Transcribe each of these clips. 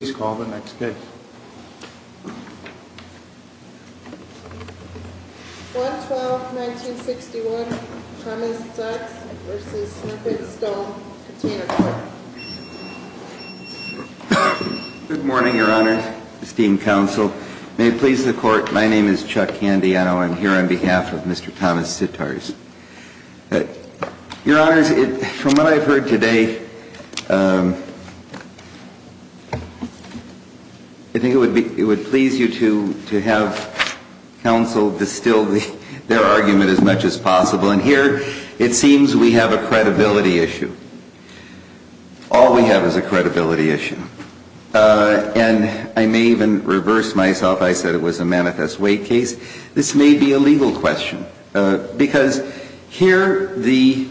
Please call the next case. 112-1961 Thomas Sitz v. Snippet Stone, Container Court. Good morning, your honors, esteemed counsel. May it please the court, my name is Chuck Candiano. I'm here on behalf of Mr. Thomas Sitarz. Your honors, from what I've heard today, I think it would please you to have counsel distill their argument as much as possible. And here, it seems we have a credibility issue. All we have is a credibility issue. And I may even reverse myself. I said it was a manifest way case. This may be a legal question. Because here, the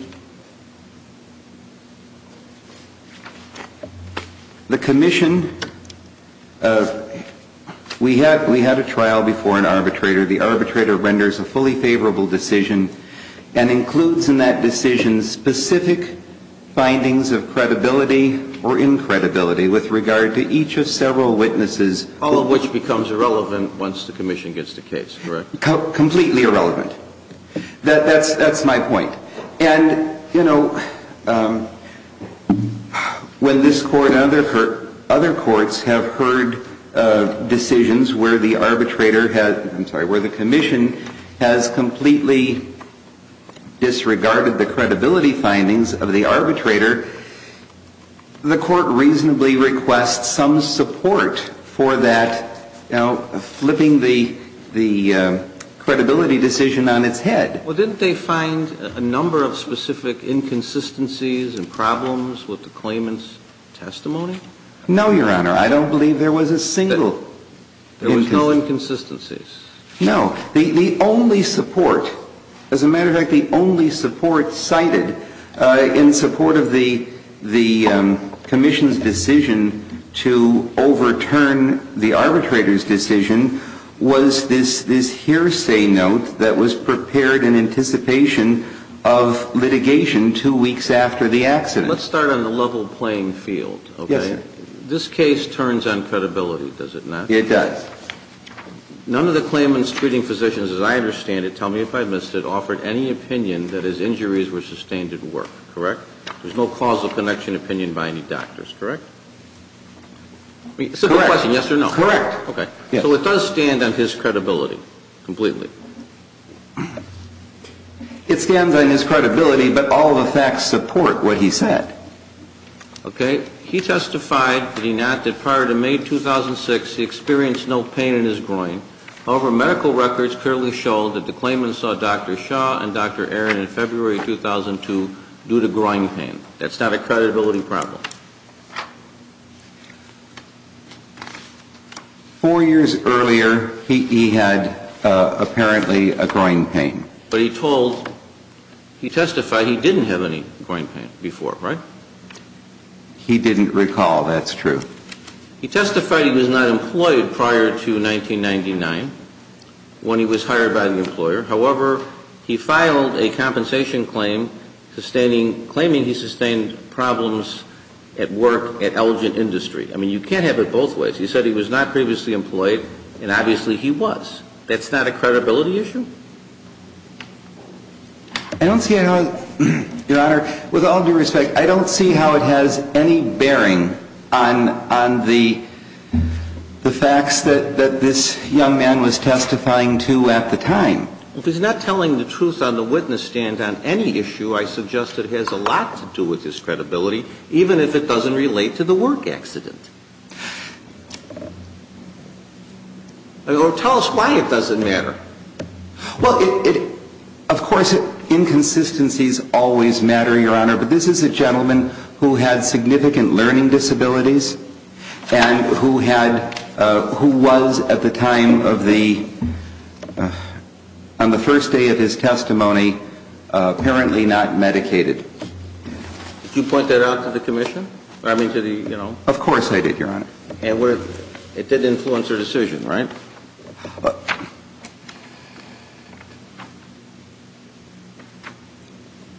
commission, we had a trial before an arbitrator. The arbitrator renders a fully favorable decision and includes in that decision specific findings of credibility or incredibility with regard to each of several witnesses. All of which becomes irrelevant once the commission gets the case, correct? Completely irrelevant. That's my point. And, you know, when this court and other courts have heard decisions where the arbitrator has, I'm sorry, where the commission has completely disregarded the credibility findings of the arbitrator, the court reasonably requests some support for that, you know, flipping the credibility decision on its head. Well, didn't they find a number of specific inconsistencies and problems with the claimant's testimony? No, Your Honor. I don't believe there was a single inconsistency. There was no inconsistencies? No. The only support, as a matter of fact, the only support cited in support of the commission's decision to overturn the arbitrator's decision was this hearsay note that was prepared in anticipation of litigation two weeks after the accident. Let's start on the level playing field, okay? Yes, sir. This case turns on credibility, does it not? It does. None of the claimant's treating physicians, as I understand it, tell me if I missed it, offered any opinion that his injuries were sustained at work, correct? There's no clausal connection opinion by any doctors, correct? Correct. Yes or no? Correct. Okay. So it does stand on his credibility completely? It stands on his credibility, but all the facts support what he said. Okay. He testified, did he not, that prior to May 2006 he experienced no pain in his groin. However, medical records clearly show that the claimant saw Dr. Shaw and Dr. Aaron in February 2002 due to groin pain. That's not a credibility problem. Four years earlier, he had apparently a groin pain. But he told, he testified he didn't have any groin pain before, right? He didn't recall, that's true. He testified he was not employed prior to 1999 when he was hired by the employer. However, he filed a compensation claim claiming he sustained problems at work at Elgin Industry. I mean, you can't have it both ways. He said he was not previously employed, and obviously he was. That's not a credibility issue? I don't see how, Your Honor, with all due respect, I don't see how it has any bearing on the facts that this young man was testifying to at the time. If he's not telling the truth on the witness stand on any issue, I suggest it has a lot to do with his credibility, even if it doesn't relate to the work accident. Tell us why it doesn't matter. Well, of course, inconsistencies always matter, Your Honor. But this is a gentleman who had significant learning disabilities and who was, at the time of the, on the first day of his testimony, apparently not medicated. Did you point that out to the commission? Of course I did. I did, Your Honor. It did influence her decision, right?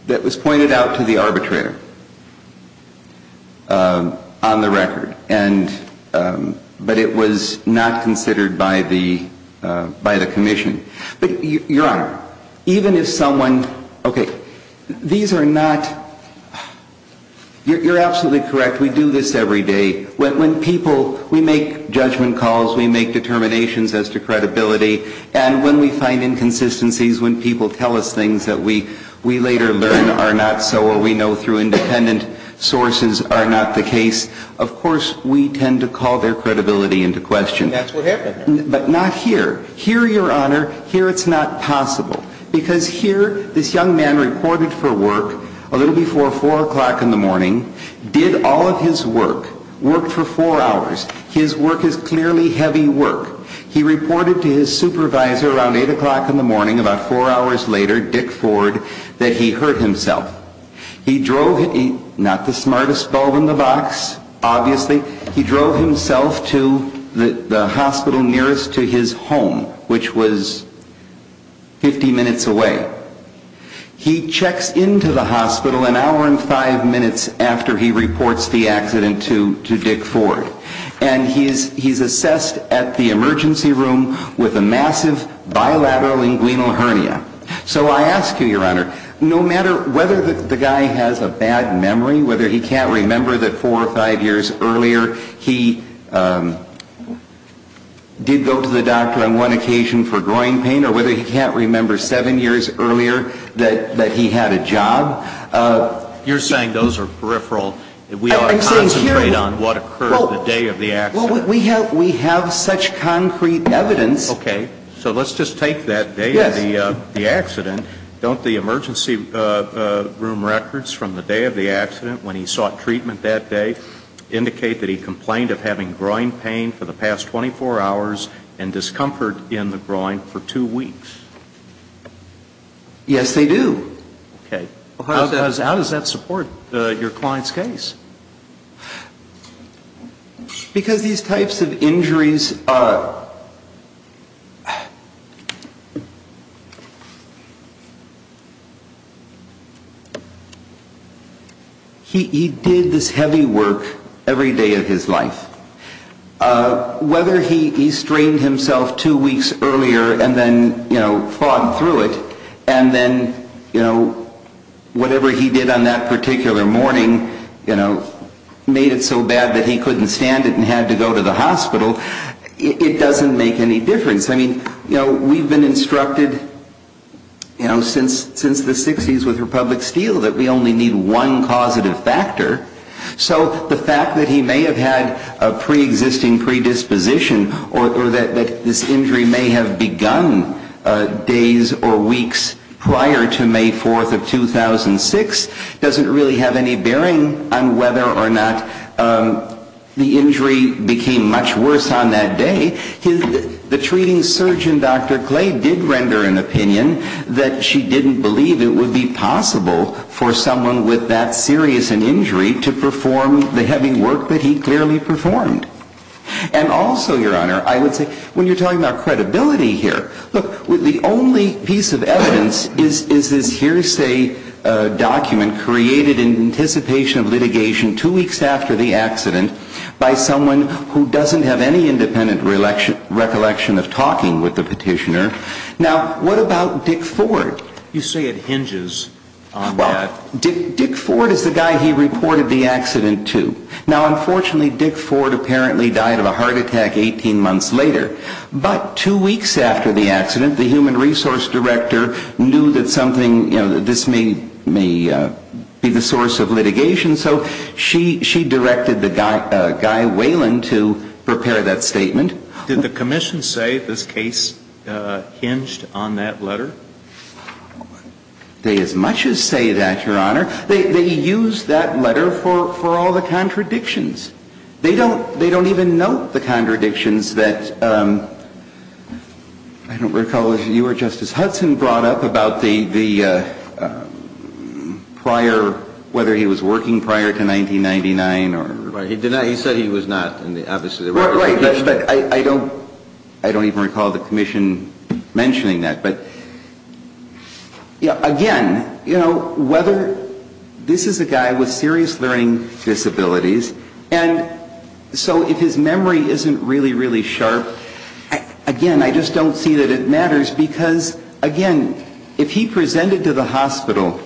That was pointed out to the arbitrator on the record, but it was not considered by the commission. But, Your Honor, even if someone, okay, these are not, you're absolutely correct, we do this every day. When people, we make judgment calls, we make determinations as to credibility, and when we find inconsistencies, when people tell us things that we later learn are not so or we know through independent sources are not the case, of course, we tend to call their credibility into question. And that's what happened there. But not here. Here, Your Honor, here it's not possible. Because here, this young man reported for work a little before 4 o'clock in the morning, did all of his work, worked for four hours. His work is clearly heavy work. He reported to his supervisor around 8 o'clock in the morning, about four hours later, Dick Ford, that he hurt himself. Not the smartest bulb in the box, obviously. He drove himself to the hospital nearest to his home, which was 50 minutes away. He checks into the hospital an hour and five minutes after he reports the accident to Dick Ford. And he's assessed at the emergency room with a massive bilateral inguinal hernia. So I ask you, Your Honor, no matter whether the guy has a bad memory, whether he can't remember that four or five years earlier he did go to the doctor on one occasion for groin pain, or whether he can't remember seven years earlier that he had a job. You're saying those are peripheral. We ought to concentrate on what occurred the day of the accident. Well, we have such concrete evidence. Okay. So let's just take that day of the accident. Don't the emergency room records from the day of the accident when he sought treatment that day indicate that he complained of having groin pain for the past 24 hours and discomfort in the groin for two weeks? Yes, they do. Okay. How does that support your client's case? Because these types of injuries are ‑‑ he did this heavy work every day of his life. Whether he strained himself two weeks earlier and then fought through it and then whatever he did on that particular morning made it so bad that he couldn't stand it and had to go to the hospital, it doesn't make any difference. I mean, we've been instructed since the 60s with Republic Steel that we only need one causative factor. So the fact that he may have had a preexisting predisposition or that this injury may have begun days or weeks prior to May 4th of 2006 doesn't really have any bearing on whether or not the injury became much worse on that day. The treating surgeon, Dr. Clay, did render an opinion that she didn't believe it would be possible for someone with that serious an injury to perform the heavy work that he clearly performed. And also, Your Honor, I would say when you're talking about credibility here, look, the only piece of evidence is this hearsay document created in anticipation of litigation two weeks after the accident by someone who doesn't have any independent recollection of talking with the petitioner. Now, what about Dick Ford? You say it hinges on that. Well, Dick Ford is the guy he reported the accident to. Now, unfortunately, Dick Ford apparently died of a heart attack 18 months later. But two weeks after the accident, the human resource director knew that something, you know, this may be the source of litigation. So she directed the guy, Waylon, to prepare that statement. Did the commission say this case hinged on that letter? They as much as say that, Your Honor. They used that letter for all the contradictions. They don't even note the contradictions that I don't recall if you or Justice Hudson brought up about the prior, whether he was working prior to 1999 or — Right. He said he was not. Right. But I don't even recall the commission mentioning that. But, you know, again, you know, whether — this is a guy with serious learning disabilities. And so if his memory isn't really, really sharp, again, I just don't see that it matters. Because, again, if he presented to the hospital,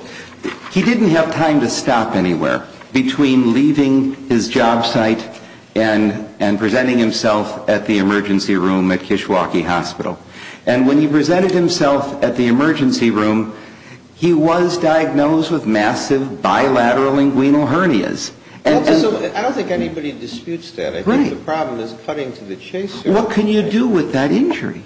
he didn't have time to stop anywhere between leaving his job site and presenting himself at the emergency room at Kishwaukee Hospital. And when he presented himself at the emergency room, he was diagnosed with massive bilateral inguinal hernias. And so — I don't think anybody disputes that. Right. I think the problem is cutting to the chase here. What can you do with that injury?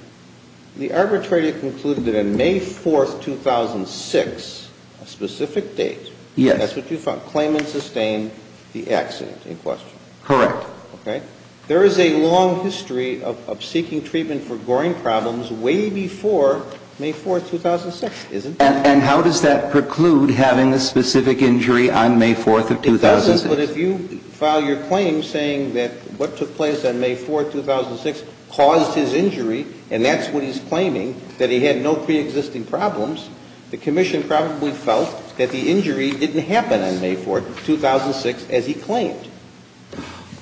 The arbitrator concluded that on May 4th, 2006, a specific date — Yes. That's what you found, claimant sustained the accident in question. Correct. Okay. There is a long history of seeking treatment for Goring problems way before May 4th, 2006, isn't there? And how does that preclude having a specific injury on May 4th of 2006? It doesn't. But if you file your claim saying that what took place on May 4th, 2006 caused his injury, and that's what he's claiming, that he had no preexisting problems, the commission probably felt that the injury didn't happen on May 4th, 2006, as he claimed.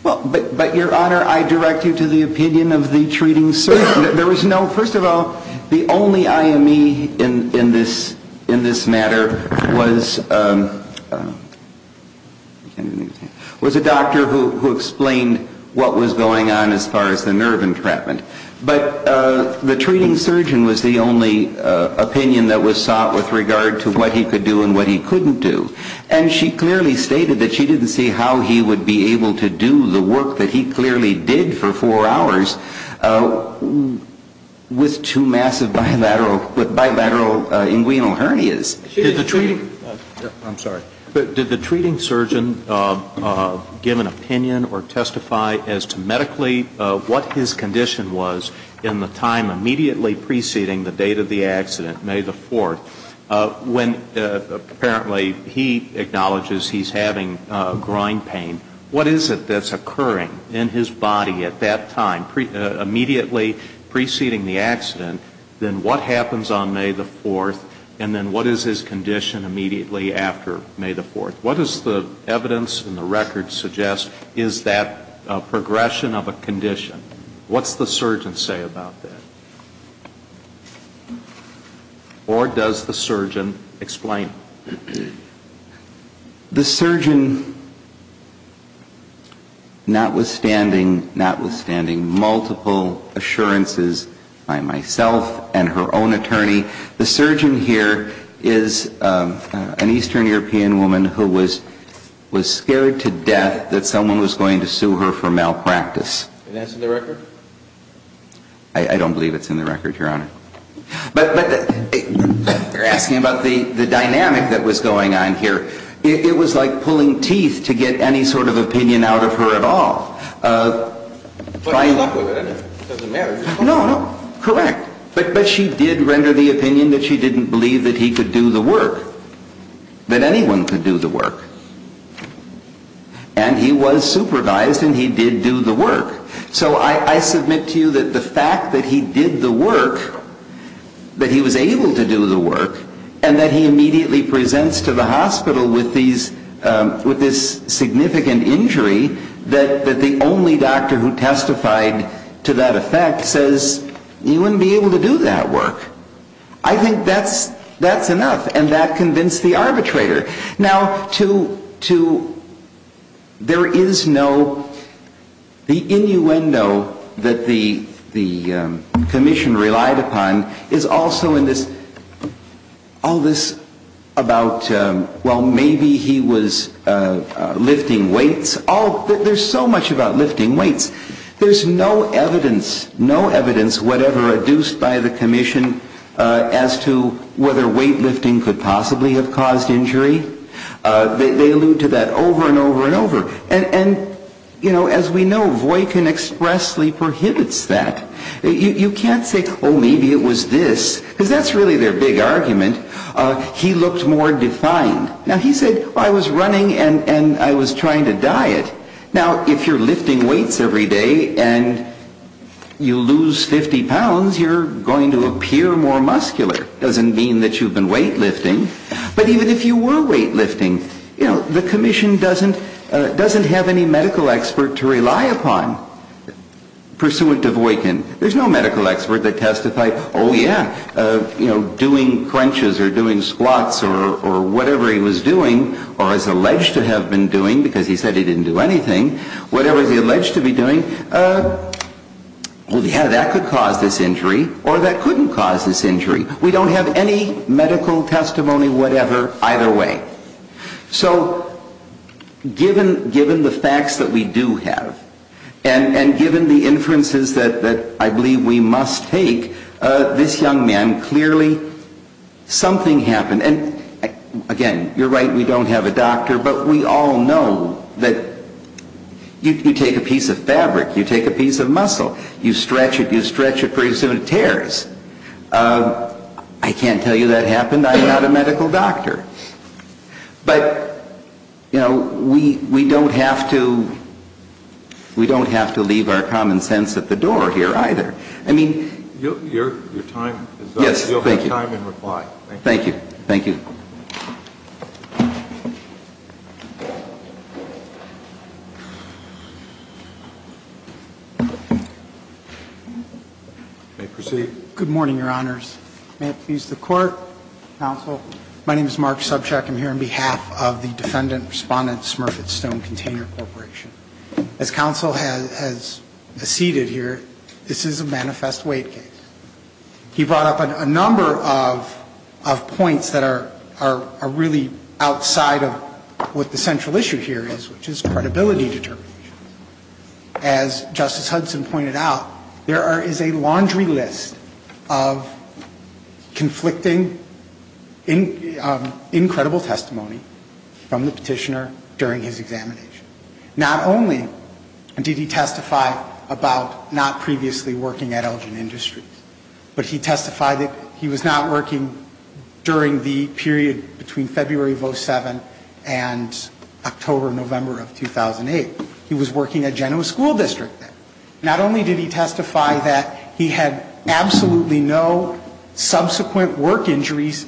But, Your Honor, I direct you to the opinion of the treating surgeon. There was no — first of all, the only IME in this matter was a doctor who explained what was going on as far as the nerve entrapment. But the treating surgeon was the only opinion that was sought with regard to what he could do and what he couldn't do. And she clearly stated that she didn't see how he would be able to do the work that he clearly did for four hours with two massive bilateral inguinal hernias. I'm sorry. Did the treating surgeon give an opinion or testify as to medically what his condition was in the time immediately preceding the date of the accident, May 4th, when apparently he acknowledges he's having groin pain? What is it that's occurring in his body at that time, immediately preceding the accident? Then what happens on May 4th? And then what is his condition immediately after May 4th? What does the evidence in the record suggest is that progression of a condition? What's the surgeon say about that? Or does the surgeon explain? The surgeon, notwithstanding multiple assurances by myself and her own attorney, the surgeon here is an Eastern European woman who was scared to death that someone was going to sue her for malpractice. And that's in the record? I don't believe it's in the record, Your Honor. But you're asking about the dynamic that was going on here. It was like pulling teeth to get any sort of opinion out of her at all. But she's not with it. It doesn't matter. No, no. Correct. But she did render the opinion that she didn't believe that he could do the work, that anyone could do the work. And he was supervised, and he did do the work. So I submit to you that the fact that he did the work, that he was able to do the work, and that he immediately presents to the hospital with this significant injury, that the only doctor who testified to that effect says, you wouldn't be able to do that work. I think that's enough. And that convinced the arbitrator. Now, to – there is no – the innuendo that the commission relied upon is also in this – all this about, well, maybe he was lifting weights. There's so much about lifting weights. There's no evidence, no evidence whatever, adduced by the commission as to whether weightlifting could possibly have caused injury. They allude to that over and over and over. And, you know, as we know, Voykin expressly prohibits that. You can't say, oh, maybe it was this, because that's really their big argument. He looked more defined. Now, he said, well, I was running and I was trying to diet. Now, if you're lifting weights every day and you lose 50 pounds, you're going to appear more muscular. It doesn't mean that you've been weightlifting. But even if you were weightlifting, you know, the commission doesn't have any medical expert to rely upon pursuant to Voykin. There's no medical expert that testified, oh, yeah, you know, doing crunches or doing squats or whatever he was doing or is alleged to have been doing, because he said he didn't do anything. Whatever he's alleged to be doing, oh, yeah, that could cause this injury or that couldn't cause this injury. We don't have any medical testimony whatever either way. So given the facts that we do have and given the inferences that I believe we must take, this young man clearly something happened. And, again, you're right, we don't have a doctor, but we all know that you take a piece of fabric, you take a piece of muscle, you stretch it, you stretch it, pretty soon it tears. I can't tell you that happened. I'm not a medical doctor. But, you know, we don't have to leave our common sense at the door here either. I mean... Your time is up. Yes, thank you. You'll have time and reply. Thank you. Thank you. May I proceed? Good morning, Your Honors. May it please the Court, Counsel. My name is Mark Subchak. I'm here on behalf of the Defendant Respondent Smurf at Stone Container Corporation. As Counsel has seated here, this is a manifest weight case. He brought up a number of points that are important. One of the things that I would like to point out is that there are a number of points that are really outside of what the central issue here is, which is credibility determination. As Justice Hudson pointed out, there is a laundry list of conflicting, incredible testimony from the Petitioner during his examination. Not only did he testify about not previously working at Elgin Industries, but he testified that he was not working during the period between February of 07 and October, November of 2008. He was working at Genoa School District then. Not only did he testify that he had absolutely no subsequent work injuries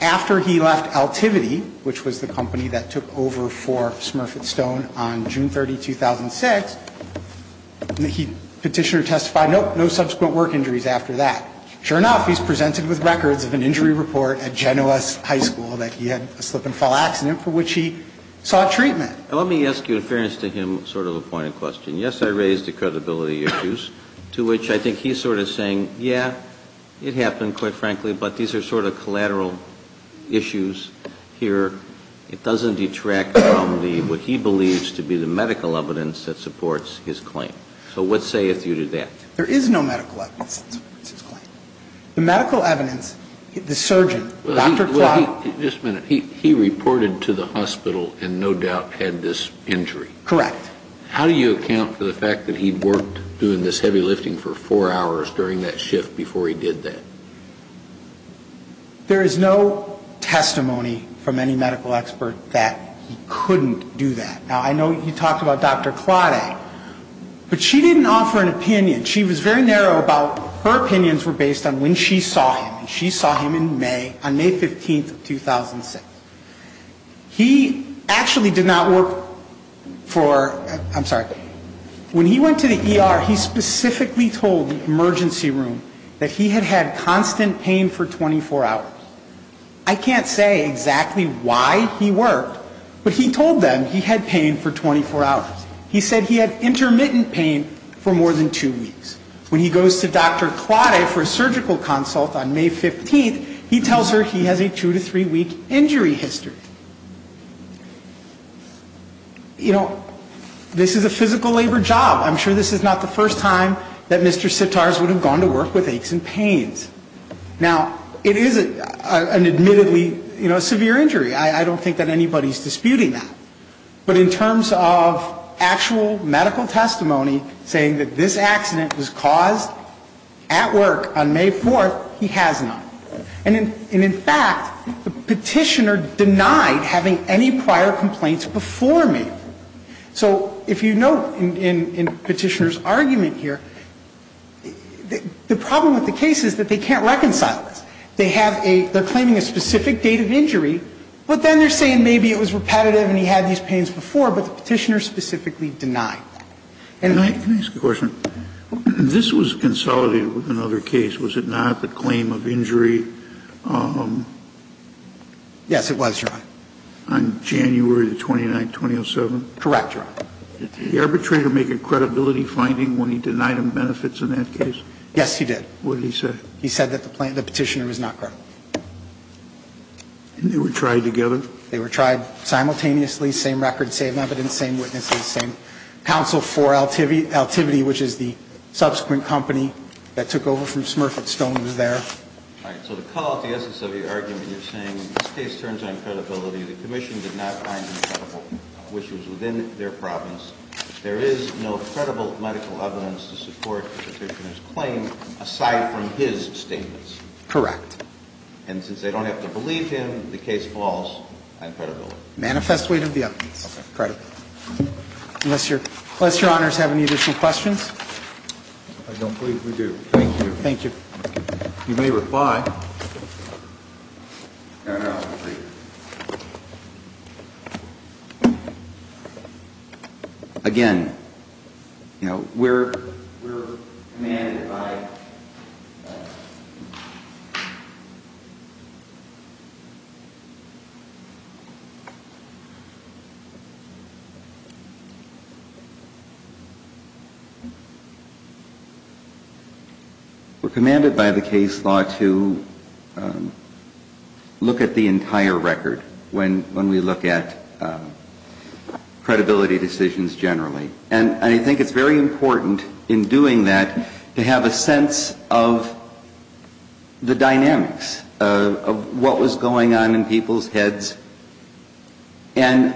after he left Altivity, which was the company that took over for Smurf at Stone on June 30, 2006, the Petitioner testified, nope, no subsequent work injuries after that. Sure enough, he's presented with records of an injury report at Genoa High School that he had a slip-and-fall accident for which he sought treatment. And he did not testify about that. Let me ask you, in fairness to him, sort of a point of question. Yes, I raised the credibility issues, to which I think he's sort of saying, yeah, it happened, quite frankly, but these are sort of collateral issues here. It doesn't detract from what he believes to be the medical evidence that supports his claim. So what sayeth you to that? There is no medical evidence that supports his claim. The medical evidence, the surgeon, Dr. Claude. Just a minute. He reported to the hospital and no doubt had this injury. Correct. How do you account for the fact that he'd worked doing this heavy lifting for four hours during that shift before he did that? There is no testimony from any medical expert that he couldn't do that. Now, I know you talked about Dr. Claude. But she didn't offer an opinion. She was very narrow about her opinions were based on when she saw him. And she saw him in May, on May 15th of 2006. He actually did not work for, I'm sorry, when he went to the ER, he specifically told the emergency room that he had had constant pain for 24 hours. I can't say exactly why he worked, but he told them he had pain for 24 hours. He said he had intermittent pain for more than two weeks. When he goes to Dr. Claude for a surgical consult on May 15th, he tells her he has a two to three week injury history. You know, this is a physical labor job. I'm sure this is not the first time that Mr. Sitars would have gone to work with aches and pains. Now, it is an admittedly severe injury. I don't think that anybody is disputing that. But in terms of actual medical testimony saying that this accident was caused at work on May 4th, he has not. And in fact, the Petitioner denied having any prior complaints before May 4th. So if you note in Petitioner's argument here, the problem with the case is that they can't reconcile this. They're claiming a specific date of injury, but then they're saying maybe it was repetitive and he had these pains before, but the Petitioner specifically denied. And I can ask a question. This was consolidated with another case, was it not, the claim of injury? Yes, it was, Your Honor. On January the 29th, 2007? Correct, Your Honor. Did the arbitrator make a credibility finding when he denied him benefits in that case? Yes, he did. What did he say? He said that the Petitioner was not credible. And they were tried together? They were tried simultaneously. Same record, same evidence, same witnesses, same counsel for Altivity, which is the subsequent company that took over from Smurf at Stone. It was there. All right. So to call out the essence of your argument, you're saying this case turns on credibility. The Commission did not find any credible witnesses within their province. There is no credible medical evidence to support the Petitioner's claim aside from his statements. Correct. And since they don't have to believe him, the case falls on credibility. Manifest weight of the evidence. Credible. Unless Your Honors have any additional questions? I don't believe we do. Thank you. Thank you. You may reply. Again, you know, we're commanded by the case law to, you know, look at the entire record when we look at credibility decisions generally. And I think it's very important in doing that to have a sense of the dynamics, of what was going on in people's heads. And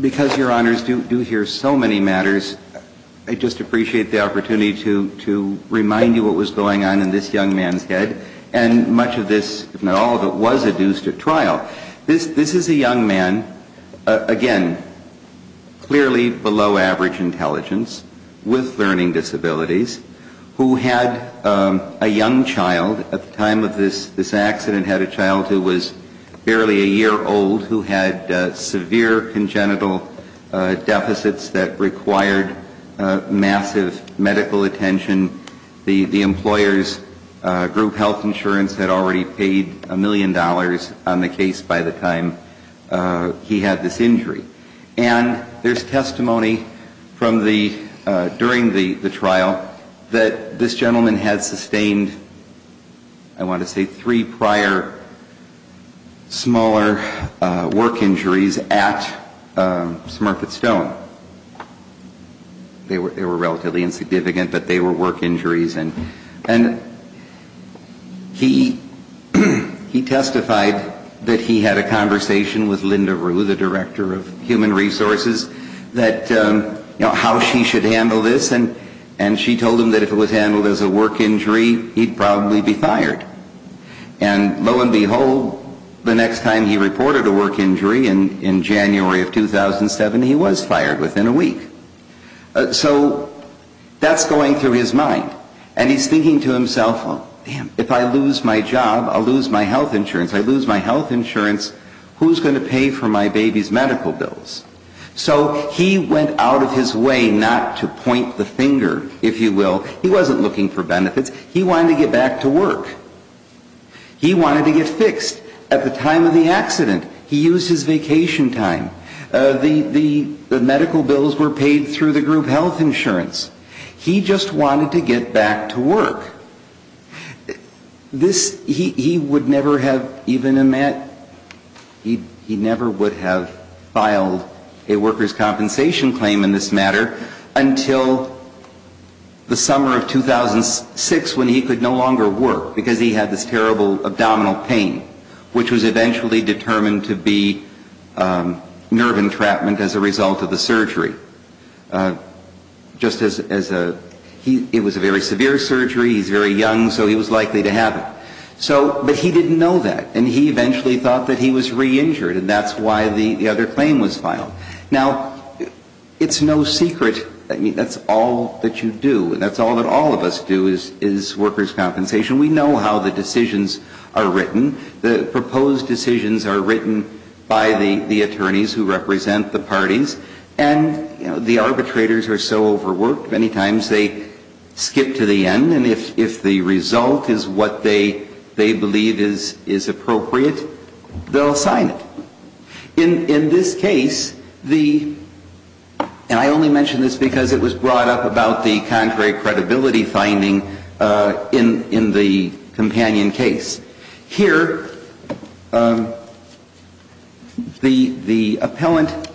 because Your Honors do hear so many matters, I just appreciate the opportunity to remind you what was going on in this young man's head. And much of this, if not all of it, was adduced at trial. This is a young man, again, clearly below average intelligence, with learning disabilities, who had a young child at the time of this accident, had a child who was barely a year old, who had severe congenital deficits that required massive medical attention. The employer's group health insurance had already paid a million dollars on the case by the time he had this injury. And there's testimony from the, during the trial, that this gentleman had sustained, I want to say, three prior smaller work injuries at Smurfett Stone. They were relatively insignificant, but they were work injuries. And he testified that he had a conversation with Linda Rue, the Director of Human Resources, that, you know, how she should handle this. And she told him that if it was handled as a work injury, he'd probably be fired. And lo and behold, the next time he reported a work injury in January of 2007, he was fired within a week. So that's going through his mind. And he's thinking to himself, oh, damn, if I lose my job, I'll lose my health insurance. If I lose my health insurance, who's going to pay for my baby's medical bills? So he went out of his way not to point the finger, if you will. He wasn't looking for benefits. He wanted to get back to work. He wanted to get fixed at the time of the accident. He used his vacation time. The medical bills were paid through the group health insurance. He just wanted to get back to work. This, he would never have even met, he never would have filed a worker's compensation claim in this matter until the summer of 2006 when he could no longer work because he had this terrible abdominal pain, which was eventually determined to be nerve entrapment as a result of the surgery. Just as a, he, it was a very severe surgery, he's very young, so he was likely to have it. So, but he didn't know that, and he eventually thought that he was re-injured, and that's why the other claim was filed. Now, it's no secret, I mean, that's all that you do, and that's all that all of us do is worker's compensation. The proposed decisions are written by the attorneys who represent the parties, and the arbitrators are so overworked, many times they skip to the end, and if the result is what they believe is appropriate, they'll sign it. In this case, the, and I only mention this because it was brought up about the contrary credibility finding in the companion case. Petitioner, the appellant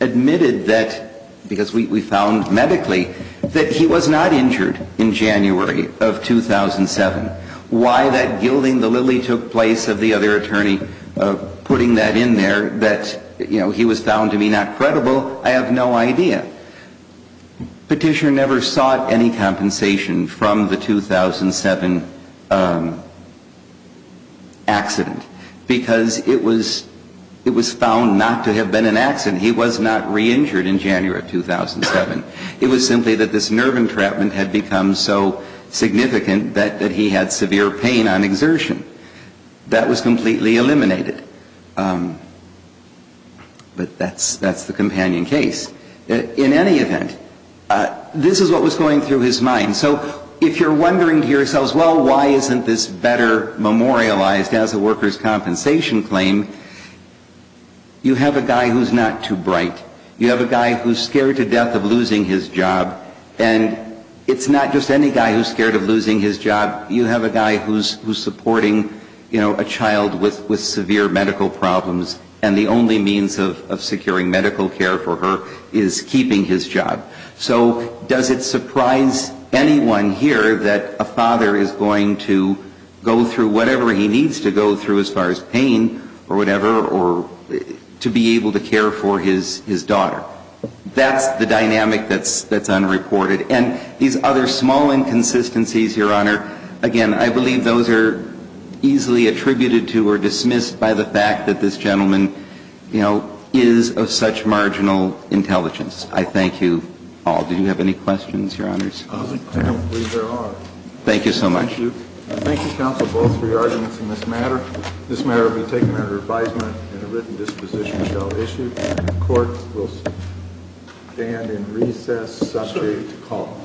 admitted that, because we found medically, that he was not injured in January of 2007. Why that gilding the lily took place of the other attorney putting that in there, that, you know, he was found to be not credible, I have no idea. Petitioner never sought any compensation from the 2007 accident, because it was found not to have been an accident. He was not re-injured in January of 2007. It was simply that this nerve entrapment had become so significant that he had severe pain on exertion. That was completely eliminated. But that's the companion case. In any event, this is what was going through his mind. So if you're wondering to yourselves, well, why isn't this better memorialized as a worker's compensation claim, you have a guy who's not too bright. You have a guy who's scared to death of losing his job, and it's not just any guy who's scared of losing his job. You have a guy who's supporting, you know, a child with severe medical problems, and the only means of securing medical care for her is keeping his job. So does it surprise anyone here that a father is going to go through whatever he needs to go through as far as pain or whatever, or to be able to care for his child? Or, you know, to be able to care for his daughter. That's the dynamic that's unreported. And these other small inconsistencies, Your Honor, again, I believe those are easily attributed to or dismissed by the fact that this gentleman, you know, is of such marginal intelligence. I thank you all. Do you have any questions, Your Honors? I don't believe there are. Thank you so much. Thank you. Thank you, counsel, both for your arguments in this matter. This matter will be taken under advisement and a written disposition shall issue. The court will stand in recess subject to call.